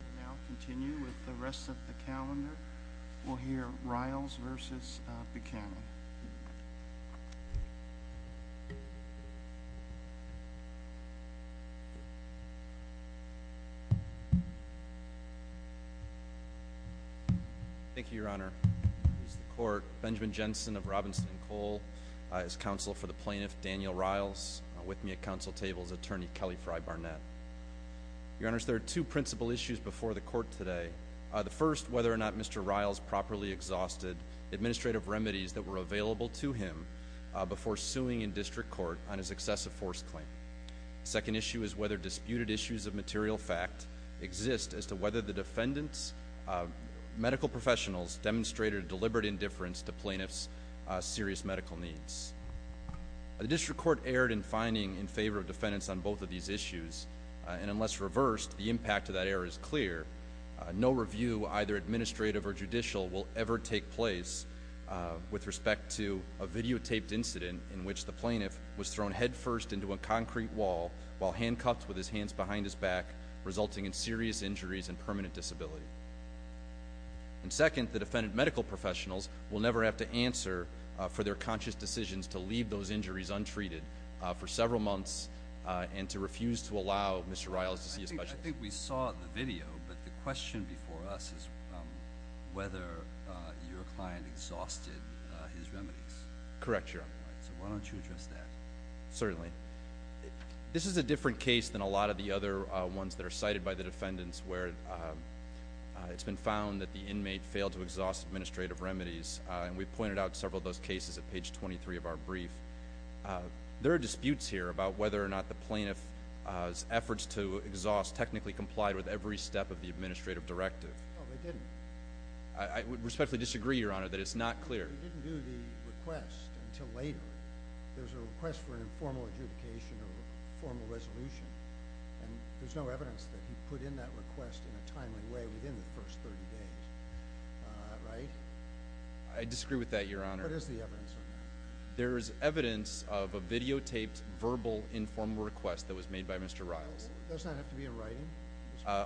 We'll now continue with the rest of the calendar. We'll hear Riles v. Buchanan. Thank you, Your Honor. Benjamin Jensen of Robinson & Cole is counsel for the plaintiff Daniel Riles. With me at counsel table is Attorney Kelly Fry Barnett. Your Honors, there are two principal issues before the court today. The first, whether or not Mr. Riles properly exhausted administrative remedies that were available to him before suing in district court on his excessive force claim. The second issue is whether disputed issues of material fact exist as to whether the defendant's medical professionals demonstrated deliberate indifference to plaintiff's serious medical needs. The district court erred in finding in favor of defendants on both of these issues, and unless reversed, the impact of that error is clear. No review, either administrative or judicial, will ever take place with respect to a videotaped incident in which the plaintiff was thrown headfirst into a concrete wall while handcuffed with his hands behind his back, resulting in serious injuries and permanent disability. And second, the defendant's medical professionals will never have to answer for their conscious decisions to leave those injuries untreated for several months and to refuse to allow Mr. Riles to see a specialist. I think we saw the video, but the question before us is whether your client exhausted his remedies. Correct, Your Honor. So why don't you address that? Certainly. This is a different case than a lot of the other ones that are cited by the defendants where it's been found that the inmate failed to exhaust administrative remedies, and we pointed out several of those cases at page 23 of our brief. There are disputes here about whether or not the plaintiff's efforts to exhaust technically complied with every step of the administrative directive. No, they didn't. I respectfully disagree, Your Honor, that it's not clear. He didn't do the request until later. There's a request for an informal adjudication or formal resolution, and there's no evidence that he put in that request in a timely way within the first 30 days, right? I disagree with that, Your Honor. What is the evidence on that? There is evidence of a videotaped verbal informal request that was made by Mr. Riles. Does that have to be in writing?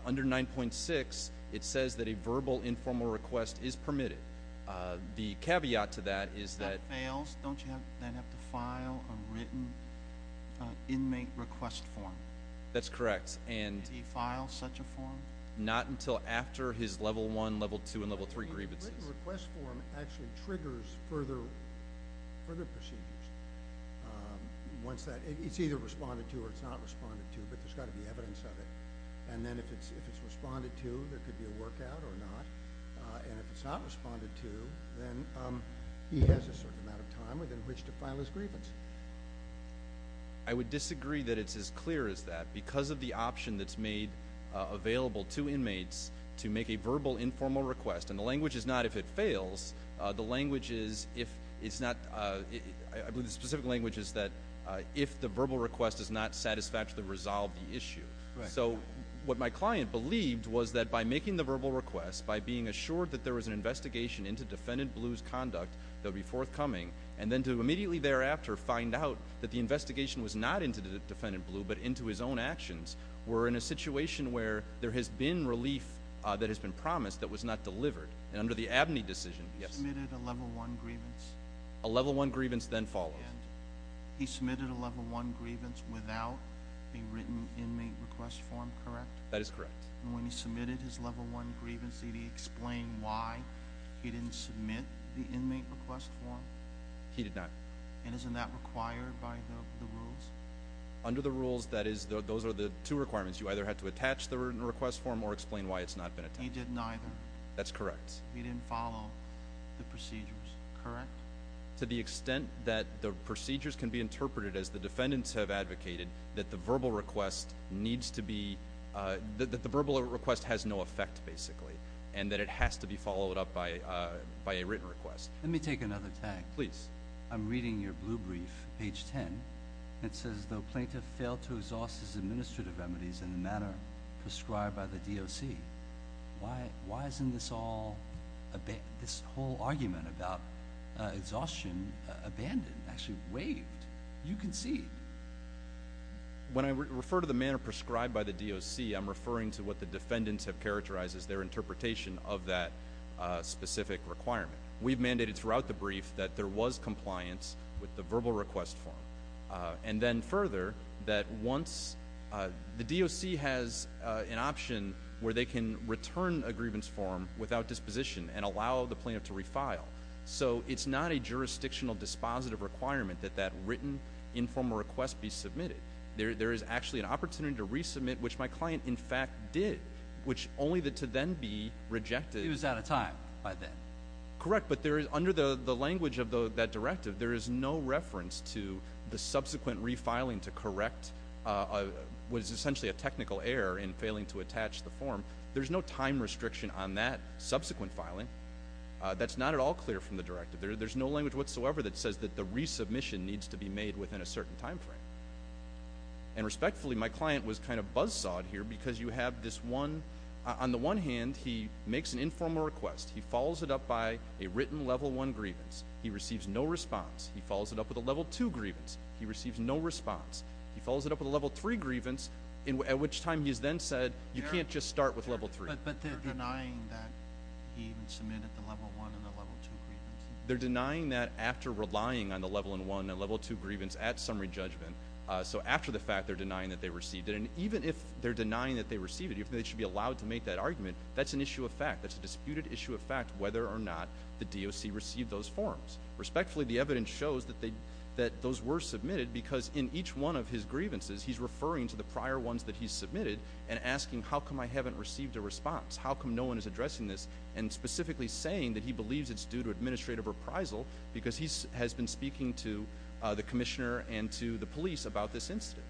Under 9.6, it says that a verbal informal request is permitted. The caveat to that is that— If that fails, don't you then have to file a written inmate request form? That's correct. Did he file such a form? Not until after his Level 1, Level 2, and Level 3 grievances. A written request form actually triggers further procedures. It's either responded to or it's not responded to, but there's got to be evidence of it. And then if it's responded to, there could be a work out or not. And if it's not responded to, then he has a certain amount of time within which to file his grievance. I would disagree that it's as clear as that. Because of the option that's made available to inmates to make a verbal informal request, and the language is not if it fails. The language is if it's not—I believe the specific language is that if the verbal request does not satisfactorily resolve the issue. So what my client believed was that by making the verbal request, by being assured that there was an investigation into Defendant Blue's conduct that would be forthcoming, and then to immediately thereafter find out that the investigation was not into Defendant Blue but into his own actions, we're in a situation where there has been relief that has been promised that was not delivered. And under the Abney decision— He submitted a Level 1 grievance. A Level 1 grievance then follows. He submitted a Level 1 grievance without a written inmate request form, correct? That is correct. And when he submitted his Level 1 grievance, did he explain why he didn't submit the inmate request form? He did not. And isn't that required by the rules? Under the rules, those are the two requirements. You either have to attach the written request form or explain why it's not been attached. He did neither. That's correct. He didn't follow the procedures, correct? To the extent that the procedures can be interpreted as the defendants have advocated that the verbal request needs to be— that the verbal request has no effect, basically, and that it has to be followed up by a written request. Let me take another tag. Please. I'm reading your blue brief, page 10. It says, plaintiff failed to exhaust his administrative remedies in the manner prescribed by the DOC. Why isn't this whole argument about exhaustion abandoned, actually waived? You can see. When I refer to the manner prescribed by the DOC, I'm referring to what the defendants have characterized as their interpretation of that specific requirement. We've mandated throughout the brief that there was compliance with the verbal request form. And then further, that once—the DOC has an option where they can return a grievance form without disposition and allow the plaintiff to refile. So it's not a jurisdictional dispositive requirement that that written informal request be submitted. There is actually an opportunity to resubmit, which my client, in fact, did, which only to then be rejected. He was out of time by then. Correct. But under the language of that directive, there is no reference to the subsequent refiling to correct what is essentially a technical error in failing to attach the form. There's no time restriction on that subsequent filing. That's not at all clear from the directive. There's no language whatsoever that says that the resubmission needs to be made within a certain time frame. And respectfully, my client was kind of buzzsawed here because you have this one—on the one hand, he makes an informal request. He follows it up by a written Level 1 grievance. He receives no response. He follows it up with a Level 2 grievance. He receives no response. He follows it up with a Level 3 grievance, at which time he has then said, you can't just start with Level 3. But they're denying that he even submitted the Level 1 and the Level 2 grievance. They're denying that after relying on the Level 1 and Level 2 grievance at summary judgment. So after the fact, they're denying that they received it. And even if they're denying that they received it, even if they should be allowed to make that argument, that's an issue of fact. That's a disputed issue of fact whether or not the DOC received those forms. Respectfully, the evidence shows that those were submitted because in each one of his grievances, he's referring to the prior ones that he submitted and asking, how come I haven't received a response? How come no one is addressing this? And specifically saying that he believes it's due to administrative reprisal because he has been speaking to the commissioner and to the police about this incident.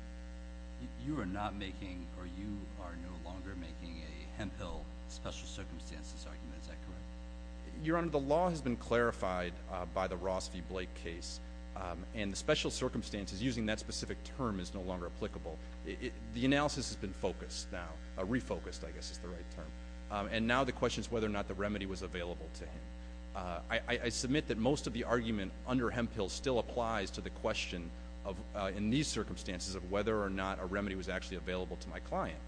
You are not making or you are no longer making a hemp pill special circumstances argument. Is that correct? Your Honor, the law has been clarified by the Ross v. Blake case. And the special circumstances using that specific term is no longer applicable. The analysis has been refocused, I guess is the right term. And now the question is whether or not the remedy was available to him. I submit that most of the argument under hemp pill still applies to the question in these circumstances of whether or not a remedy was actually available to my client.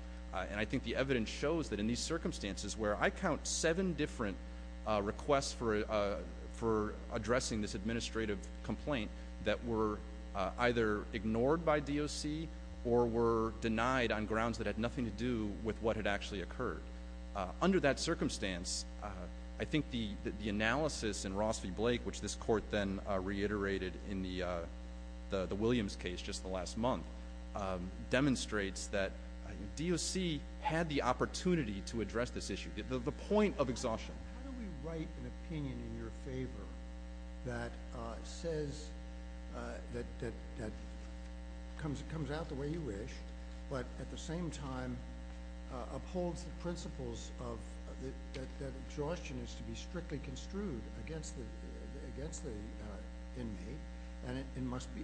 And I think the evidence shows that in these circumstances where I count seven different requests for addressing this administrative complaint that were either ignored by DOC or were denied on grounds that had nothing to do with what had actually occurred. Under that circumstance, I think the analysis in Ross v. Blake, which this court then reiterated in the Williams case just the last month, demonstrates that DOC had the opportunity to address this issue, the point of exhaustion. How do we write an opinion in your favor that says, that comes out the way you wish, but at the same time upholds the principles that exhaustion is to be strictly construed against the inmate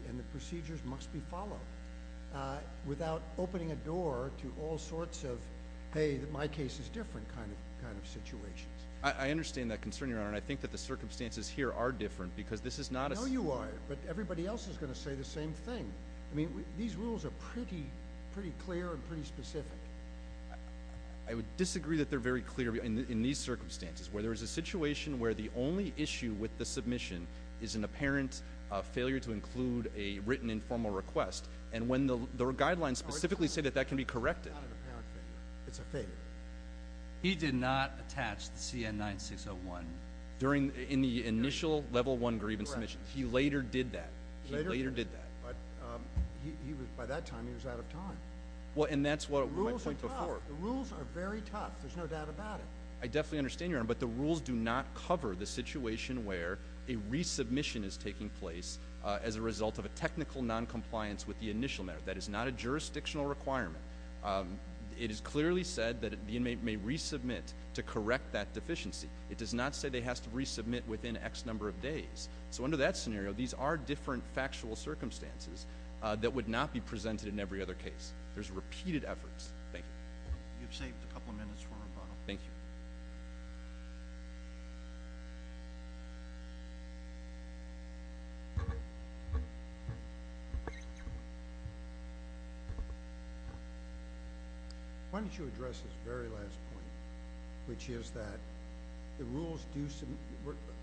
and the procedures must be followed without opening a door to all sorts of, hey, my case is different kind of situations? I understand that concern, Your Honor, and I think that the circumstances here are different because this is not a— I know you are, but everybody else is going to say the same thing. I mean, these rules are pretty clear and pretty specific. I would disagree that they're very clear in these circumstances where there is a situation where the only issue with the submission is an apparent failure to include a written informal request, and when the guidelines specifically say that that can be corrected. It's not an apparent failure. It's a failure. He did not attach the CN-9601. In the initial level one grievance submission. He later did that. He later did that. But by that time he was out of time. Well, and that's what— The rules are tough. The rules are very tough. There's no doubt about it. I definitely understand, Your Honor, but the rules do not cover the situation where a resubmission is taking place as a result of a technical noncompliance with the initial matter. That is not a jurisdictional requirement. It is clearly said that the inmate may resubmit to correct that deficiency. So under that scenario, these are different factual circumstances that would not be presented in every other case. There's repeated efforts. Thank you. You've saved a couple of minutes for rebuttal. Thank you. Why don't you address this very last point, which is that the rules do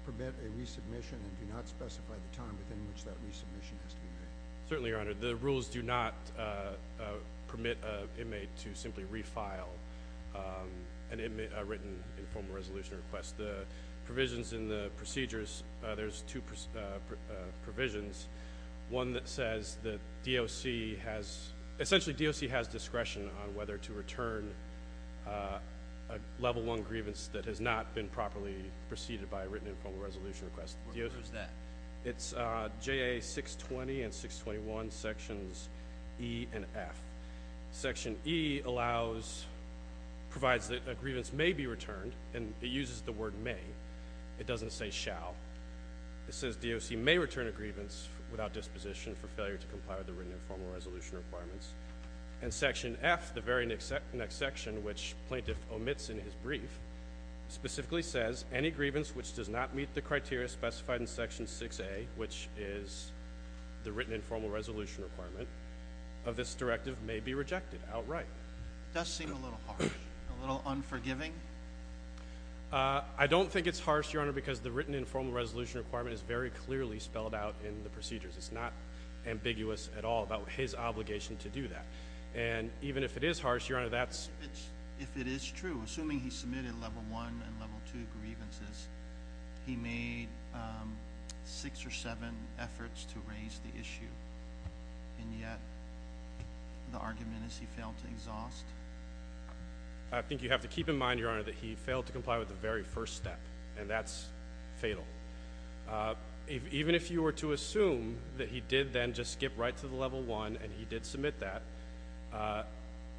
permit a resubmission and do not specify the time within which that resubmission has to be made? Certainly, Your Honor. The rules do not permit an inmate to simply refile a written informal resolution request. The provisions in the procedures, there's two provisions. One that says that DOC has— a Level I grievance that has not been properly preceded by a written informal resolution request. What is that? It's JA 620 and 621 Sections E and F. Section E allows—provides that a grievance may be returned, and it uses the word may. It doesn't say shall. It says DOC may return a grievance without disposition for failure to comply with the written informal resolution requirements. And Section F, the very next section, which Plaintiff omits in his brief, specifically says any grievance which does not meet the criteria specified in Section 6A, which is the written informal resolution requirement, of this directive may be rejected outright. It does seem a little harsh, a little unforgiving. I don't think it's harsh, Your Honor, because the written informal resolution requirement is very clearly spelled out in the procedures. It's not ambiguous at all about his obligation to do that. And even if it is harsh, Your Honor, that's— If it is true, assuming he submitted Level I and Level II grievances, he made six or seven efforts to raise the issue, and yet the argument is he failed to exhaust? I think you have to keep in mind, Your Honor, that he failed to comply with the very first step, and that's fatal. Even if you were to assume that he did then just skip right to the Level I and he did submit that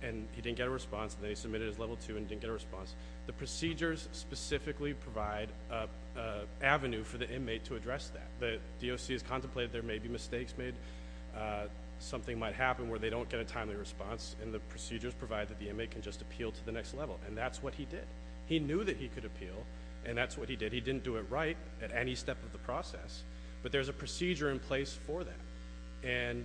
and he didn't get a response, and then he submitted his Level II and didn't get a response, the procedures specifically provide an avenue for the inmate to address that. The DOC has contemplated there may be mistakes made, something might happen where they don't get a timely response, and the procedures provide that the inmate can just appeal to the next level, and that's what he did. He knew that he could appeal, and that's what he did. He didn't do it right at any step of the process, but there's a procedure in place for that, and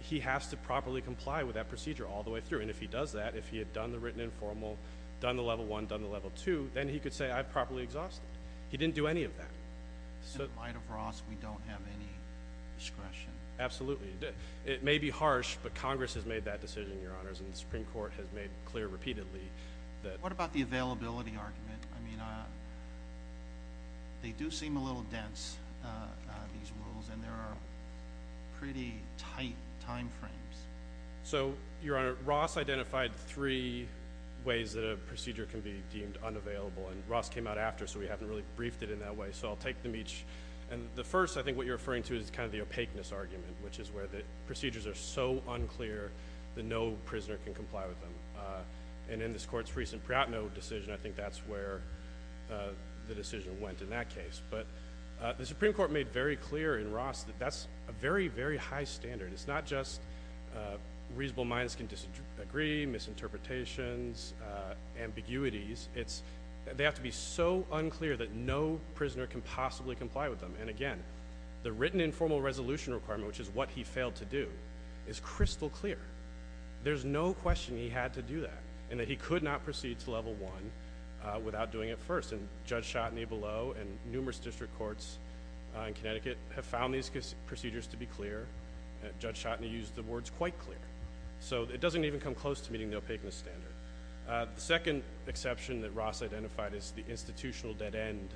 he has to properly comply with that procedure all the way through. And if he does that, if he had done the written informal, done the Level I, done the Level II, then he could say, I've properly exhausted. He didn't do any of that. In the light of Ross, we don't have any discretion. Absolutely. It may be harsh, but Congress has made that decision, Your Honors, and the Supreme Court has made clear repeatedly that— What about the availability argument? I mean, they do seem a little dense, these rules, and there are pretty tight timeframes. So, Your Honor, Ross identified three ways that a procedure can be deemed unavailable, and Ross came out after, so we haven't really briefed it in that way. So I'll take them each. The first I think what you're referring to is kind of the opaqueness argument, which is where the procedures are so unclear that no prisoner can comply with them. And in this Court's recent Priatno decision, I think that's where the decision went in that case. But the Supreme Court made very clear in Ross that that's a very, very high standard. It's not just reasonable minds can disagree, misinterpretations, ambiguities. They have to be so unclear that no prisoner can possibly comply with them. And, again, the written informal resolution requirement, which is what he failed to do, is crystal clear. There's no question he had to do that, and that he could not proceed to level one without doing it first. And Judge Schotteny below and numerous district courts in Connecticut have found these procedures to be clear. Judge Schotteny used the words quite clear. So it doesn't even come close to meeting the opaqueness standard. The second exception that Ross identified is the institutional dead end,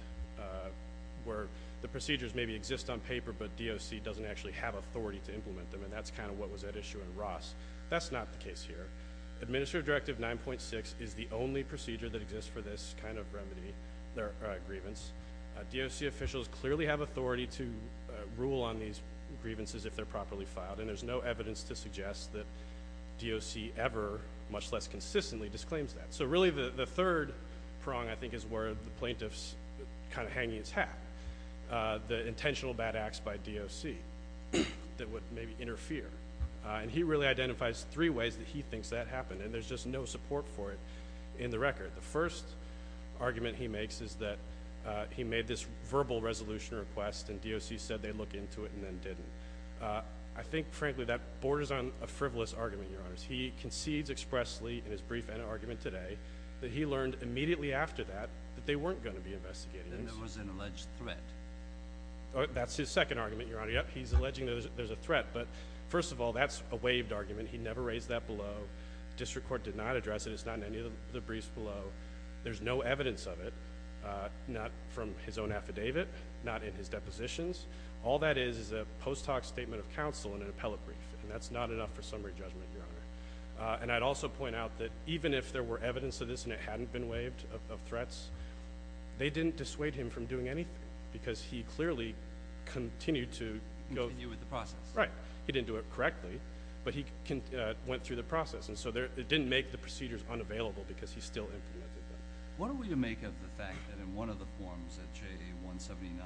where the procedures maybe exist on paper, but DOC doesn't actually have authority to implement them, and that's kind of what was at issue in Ross. That's not the case here. Administrative Directive 9.6 is the only procedure that exists for this kind of remedy or grievance. DOC officials clearly have authority to rule on these grievances if they're properly filed, and there's no evidence to suggest that DOC ever, much less consistently, disclaims that. So, really, the third prong, I think, is where the plaintiff's kind of hanging its hat, the intentional bad acts by DOC that would maybe interfere. And he really identifies three ways that he thinks that happened, and there's just no support for it in the record. The first argument he makes is that he made this verbal resolution request and DOC said they'd look into it and then didn't. I think, frankly, that borders on a frivolous argument, Your Honors. He concedes expressly in his brief and argument today that he learned immediately after that that they weren't going to be investigating this. And there was an alleged threat. That's his second argument, Your Honor. He's alleging that there's a threat, but first of all, that's a waived argument. He never raised that below. District Court did not address it. It's not in any of the briefs below. There's no evidence of it, not from his own affidavit, not in his depositions. All that is is a post hoc statement of counsel in an appellate brief, and that's not enough for summary judgment, Your Honor. And I'd also point out that even if there were evidence of this and it hadn't been waived of threats, they didn't dissuade him from doing anything because he clearly continued to go. Continued with the process. Right. He didn't do it correctly, but he went through the process. And so it didn't make the procedures unavailable because he still implemented them. What are we to make of the fact that in one of the forms at JA 179,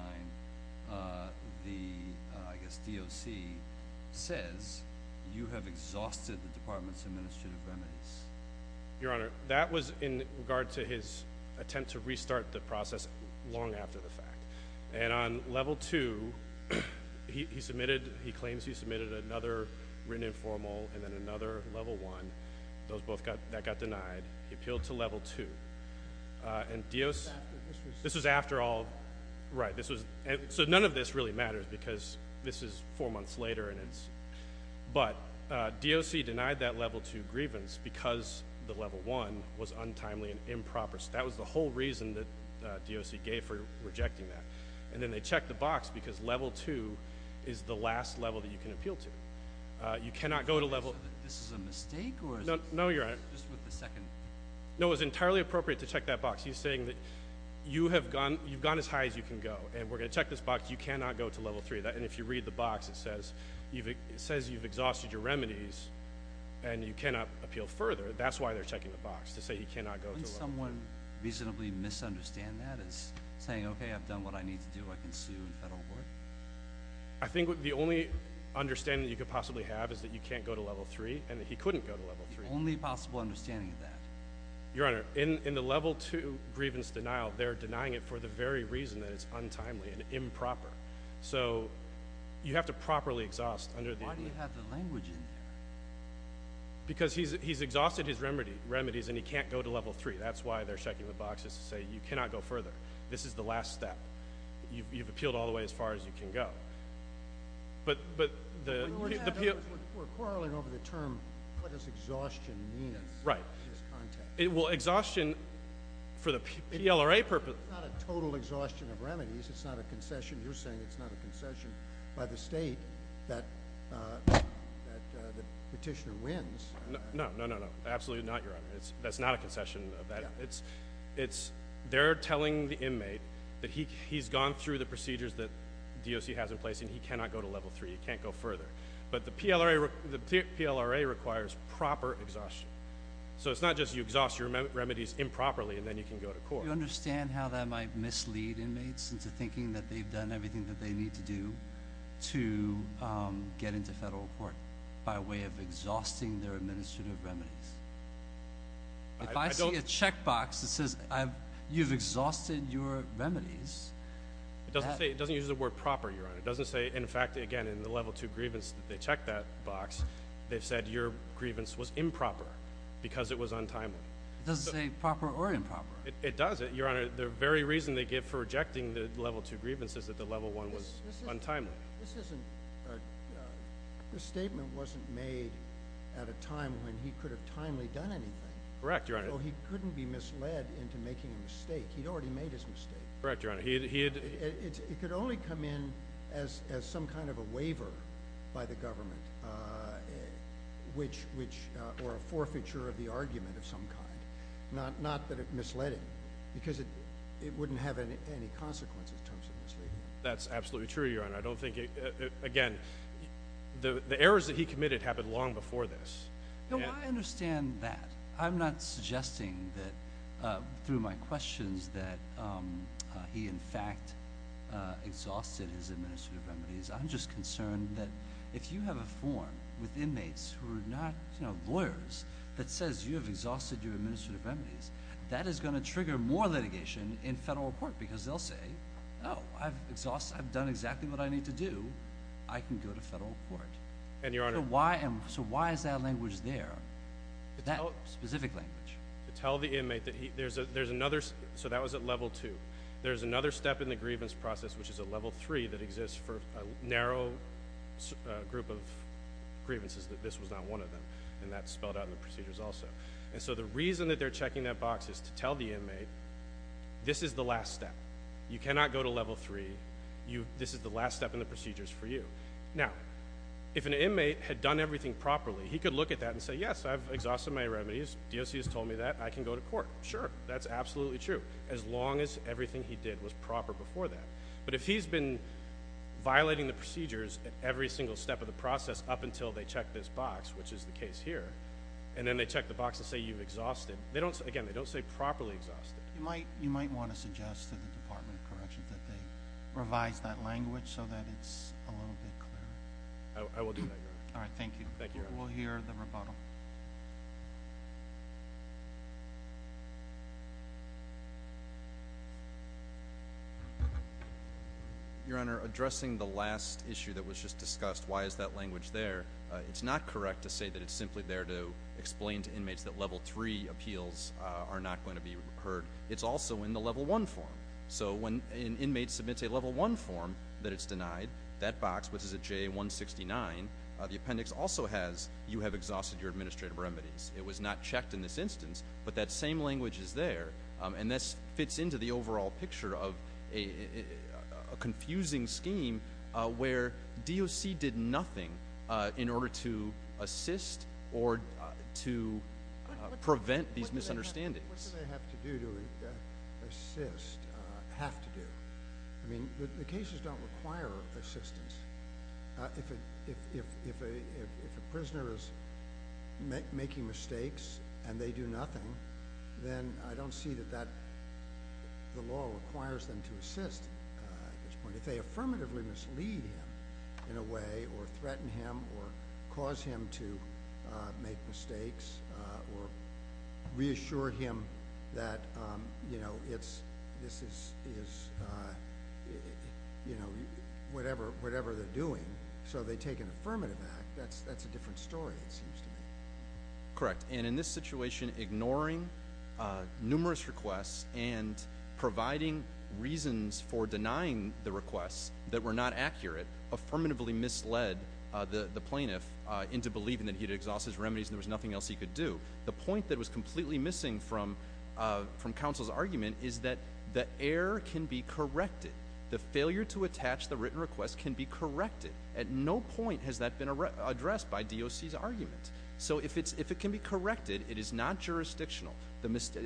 the, I guess, DOC says you have exhausted the department's administrative remedies? Your Honor, that was in regard to his attempt to restart the process long after the fact. And on Level 2, he submitted, he claims he submitted another written informal and then another Level 1. Those both got, that got denied. He appealed to Level 2. And DOC, this was after all, right, this was, so none of this really matters because this is four months later and it's, but DOC denied that Level 2 grievance because the Level 1 was untimely and improper. So that was the whole reason that DOC gave for rejecting that. And then they checked the box because Level 2 is the last level that you can appeal to. You cannot go to Level. This is a mistake? No, Your Honor. Just with the second. No, it was entirely appropriate to check that box. He's saying that you have gone, you've gone as high as you can go and we're going to check this box. You cannot go to Level 3. And if you read the box, it says, it says you've exhausted your remedies and you cannot appeal further. That's why they're checking the box to say he cannot go to Level 3. Wouldn't someone reasonably misunderstand that as saying, okay, I've done what I need to do. I can sue the federal court? I think the only understanding that you could possibly have is that you can't go to Level 3 and that he couldn't go to Level 3. That's the only possible understanding of that. Your Honor, in the Level 2 grievance denial, they're denying it for the very reason that it's untimely and improper. So you have to properly exhaust. Why do you have the language in there? Because he's exhausted his remedies and he can't go to Level 3. That's why they're checking the box to say you cannot go further. This is the last step. You've appealed all the way as far as you can go. We're quarreling over the term, what does exhaustion mean in this context? Exhaustion for the PLRA purpose. It's not a total exhaustion of remedies. It's not a concession. You're saying it's not a concession by the state that the petitioner wins. No, no, no, no, absolutely not, Your Honor. That's not a concession of that. They're telling the inmate that he's gone through the procedures that DOC has in place and he cannot go to Level 3. He can't go further. But the PLRA requires proper exhaustion. So it's not just you exhaust your remedies improperly and then you can go to court. Do you understand how that might mislead inmates into thinking that they've done everything that they need to do to get into federal court by way of exhausting their administrative remedies? If I see a checkbox that says you've exhausted your remedies. It doesn't say. It doesn't use the word proper, Your Honor. It doesn't say, in fact, again, in the Level 2 grievance that they checked that box, they've said your grievance was improper because it was untimely. It doesn't say proper or improper. It does. Your Honor, the very reason they give for rejecting the Level 2 grievance is that the Level 1 was untimely. This statement wasn't made at a time when he could have timely done anything. Correct, Your Honor. So he couldn't be misled into making a mistake. He'd already made his mistake. Correct, Your Honor. It could only come in as some kind of a waiver by the government or a forfeiture of the argument of some kind. Not that it misled him because it wouldn't have any consequences in terms of misleading him. That's absolutely true, Your Honor. I don't think, again, the errors that he committed happened long before this. No, I understand that. I'm not suggesting that through my questions that he, in fact, exhausted his administrative remedies. I'm just concerned that if you have a form with inmates who are not lawyers that says you have exhausted your administrative remedies, that is going to trigger more litigation in federal court because they'll say, oh, I've done exactly what I need to do. I can go to federal court. And, Your Honor— So why is that language there, that specific language? To tell the inmate that there's another—so that was at Level 2. There's another step in the grievance process, which is at Level 3, that exists for a narrow group of grievances that this was not one of them, and that's spelled out in the procedures also. And so the reason that they're checking that box is to tell the inmate this is the last step. You cannot go to Level 3. This is the last step in the procedures for you. Now, if an inmate had done everything properly, he could look at that and say, yes, I've exhausted my remedies. DOC has told me that. I can go to court. Sure, that's absolutely true, as long as everything he did was proper before that. But if he's been violating the procedures at every single step of the process up until they check this box, which is the case here, and then they check the box and say you've exhausted—again, they don't say properly exhausted. You might want to suggest to the Department of Corrections that they revise that language so that it's a little bit clearer. I will do that, Your Honor. All right, thank you. Thank you, Your Honor. We'll hear the rebuttal. Your Honor, addressing the last issue that was just discussed, why is that language there, it's not correct to say that it's simply there to explain to inmates that Level 3 appeals are not going to be heard. It's also in the Level 1 form. So when an inmate submits a Level 1 form that it's denied, that box, which is a J169, the appendix also has you have exhausted your administrative remedies. It was not checked in this instance, but that same language is there. And this fits into the overall picture of a confusing scheme where DOC did nothing in order to assist or to prevent these misunderstandings. What do they have to do to assist, have to do? I mean, the cases don't require assistance. If a prisoner is making mistakes and they do nothing, then I don't see that the law requires them to assist at this point. If they affirmatively mislead him in a way or threaten him or cause him to make mistakes or reassure him that, you know, this is, you know, whatever they're doing, so they take an affirmative act, that's a different story it seems to me. Correct. And in this situation, ignoring numerous requests and providing reasons for denying the requests that were not accurate affirmatively misled the plaintiff into believing that he had exhausted his remedies and there was nothing else he could do. The point that was completely missing from counsel's argument is that the error can be corrected. The failure to attach the written request can be corrected. At no point has that been addressed by DOC's argument. So if it can be corrected, it is not jurisdictional.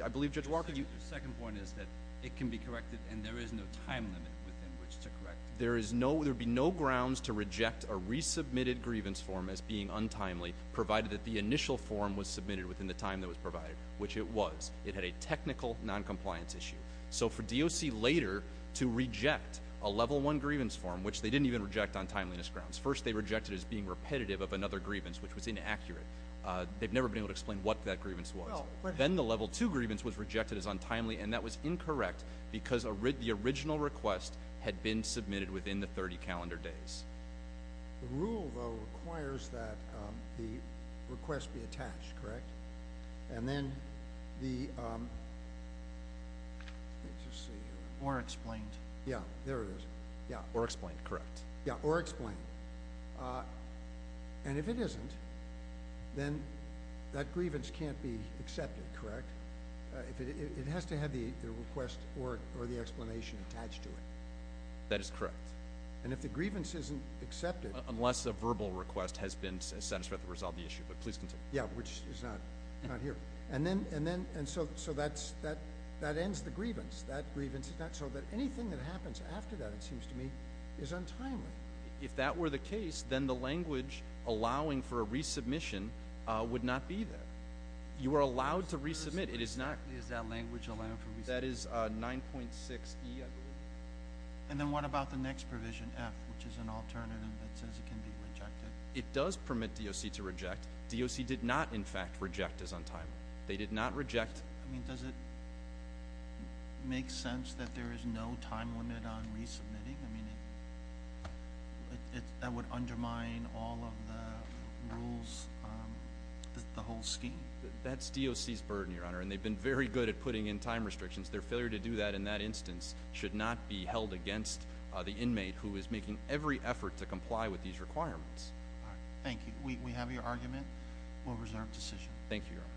I believe, Judge Walker, you— The second point is that it can be corrected and there is no time limit within which to correct it. There would be no grounds to reject a resubmitted grievance form as being untimely provided that the initial form was submitted within the time that was provided, which it was. It had a technical noncompliance issue. So for DOC later to reject a Level I grievance form, which they didn't even reject on timeliness grounds. First they rejected it as being repetitive of another grievance, which was inaccurate. They've never been able to explain what that grievance was. Then the Level II grievance was rejected as untimely, and that was incorrect because the original request had been submitted within the 30 calendar days. The rule, though, requires that the request be attached, correct? And then the—let's just see here. Or explained. Yeah, there it is. Yeah. Or explained, correct. Yeah, or explained. And if it isn't, then that grievance can't be accepted, correct? It has to have the request or the explanation attached to it. That is correct. And if the grievance isn't accepted— Unless a verbal request has been satisfied to resolve the issue, but please continue. Yeah, which is not here. And then—so that ends the grievance. So that anything that happens after that, it seems to me, is untimely. If that were the case, then the language allowing for a resubmission would not be there. You are allowed to resubmit. It is not— Is that language allowing for resubmission? That is 9.6E, I believe. And then what about the next provision, F, which is an alternative that says it can be rejected? It does permit DOC to reject. DOC did not, in fact, reject as untimely. They did not reject— I mean, does it make sense that there is no time limit on resubmitting? I mean, that would undermine all of the rules, the whole scheme. That's DOC's burden, Your Honor, and they've been very good at putting in time restrictions. Their failure to do that in that instance should not be held against the inmate who is making every effort to comply with these requirements. Thank you. We have your argument. We'll reserve decision. Thank you, Your Honor.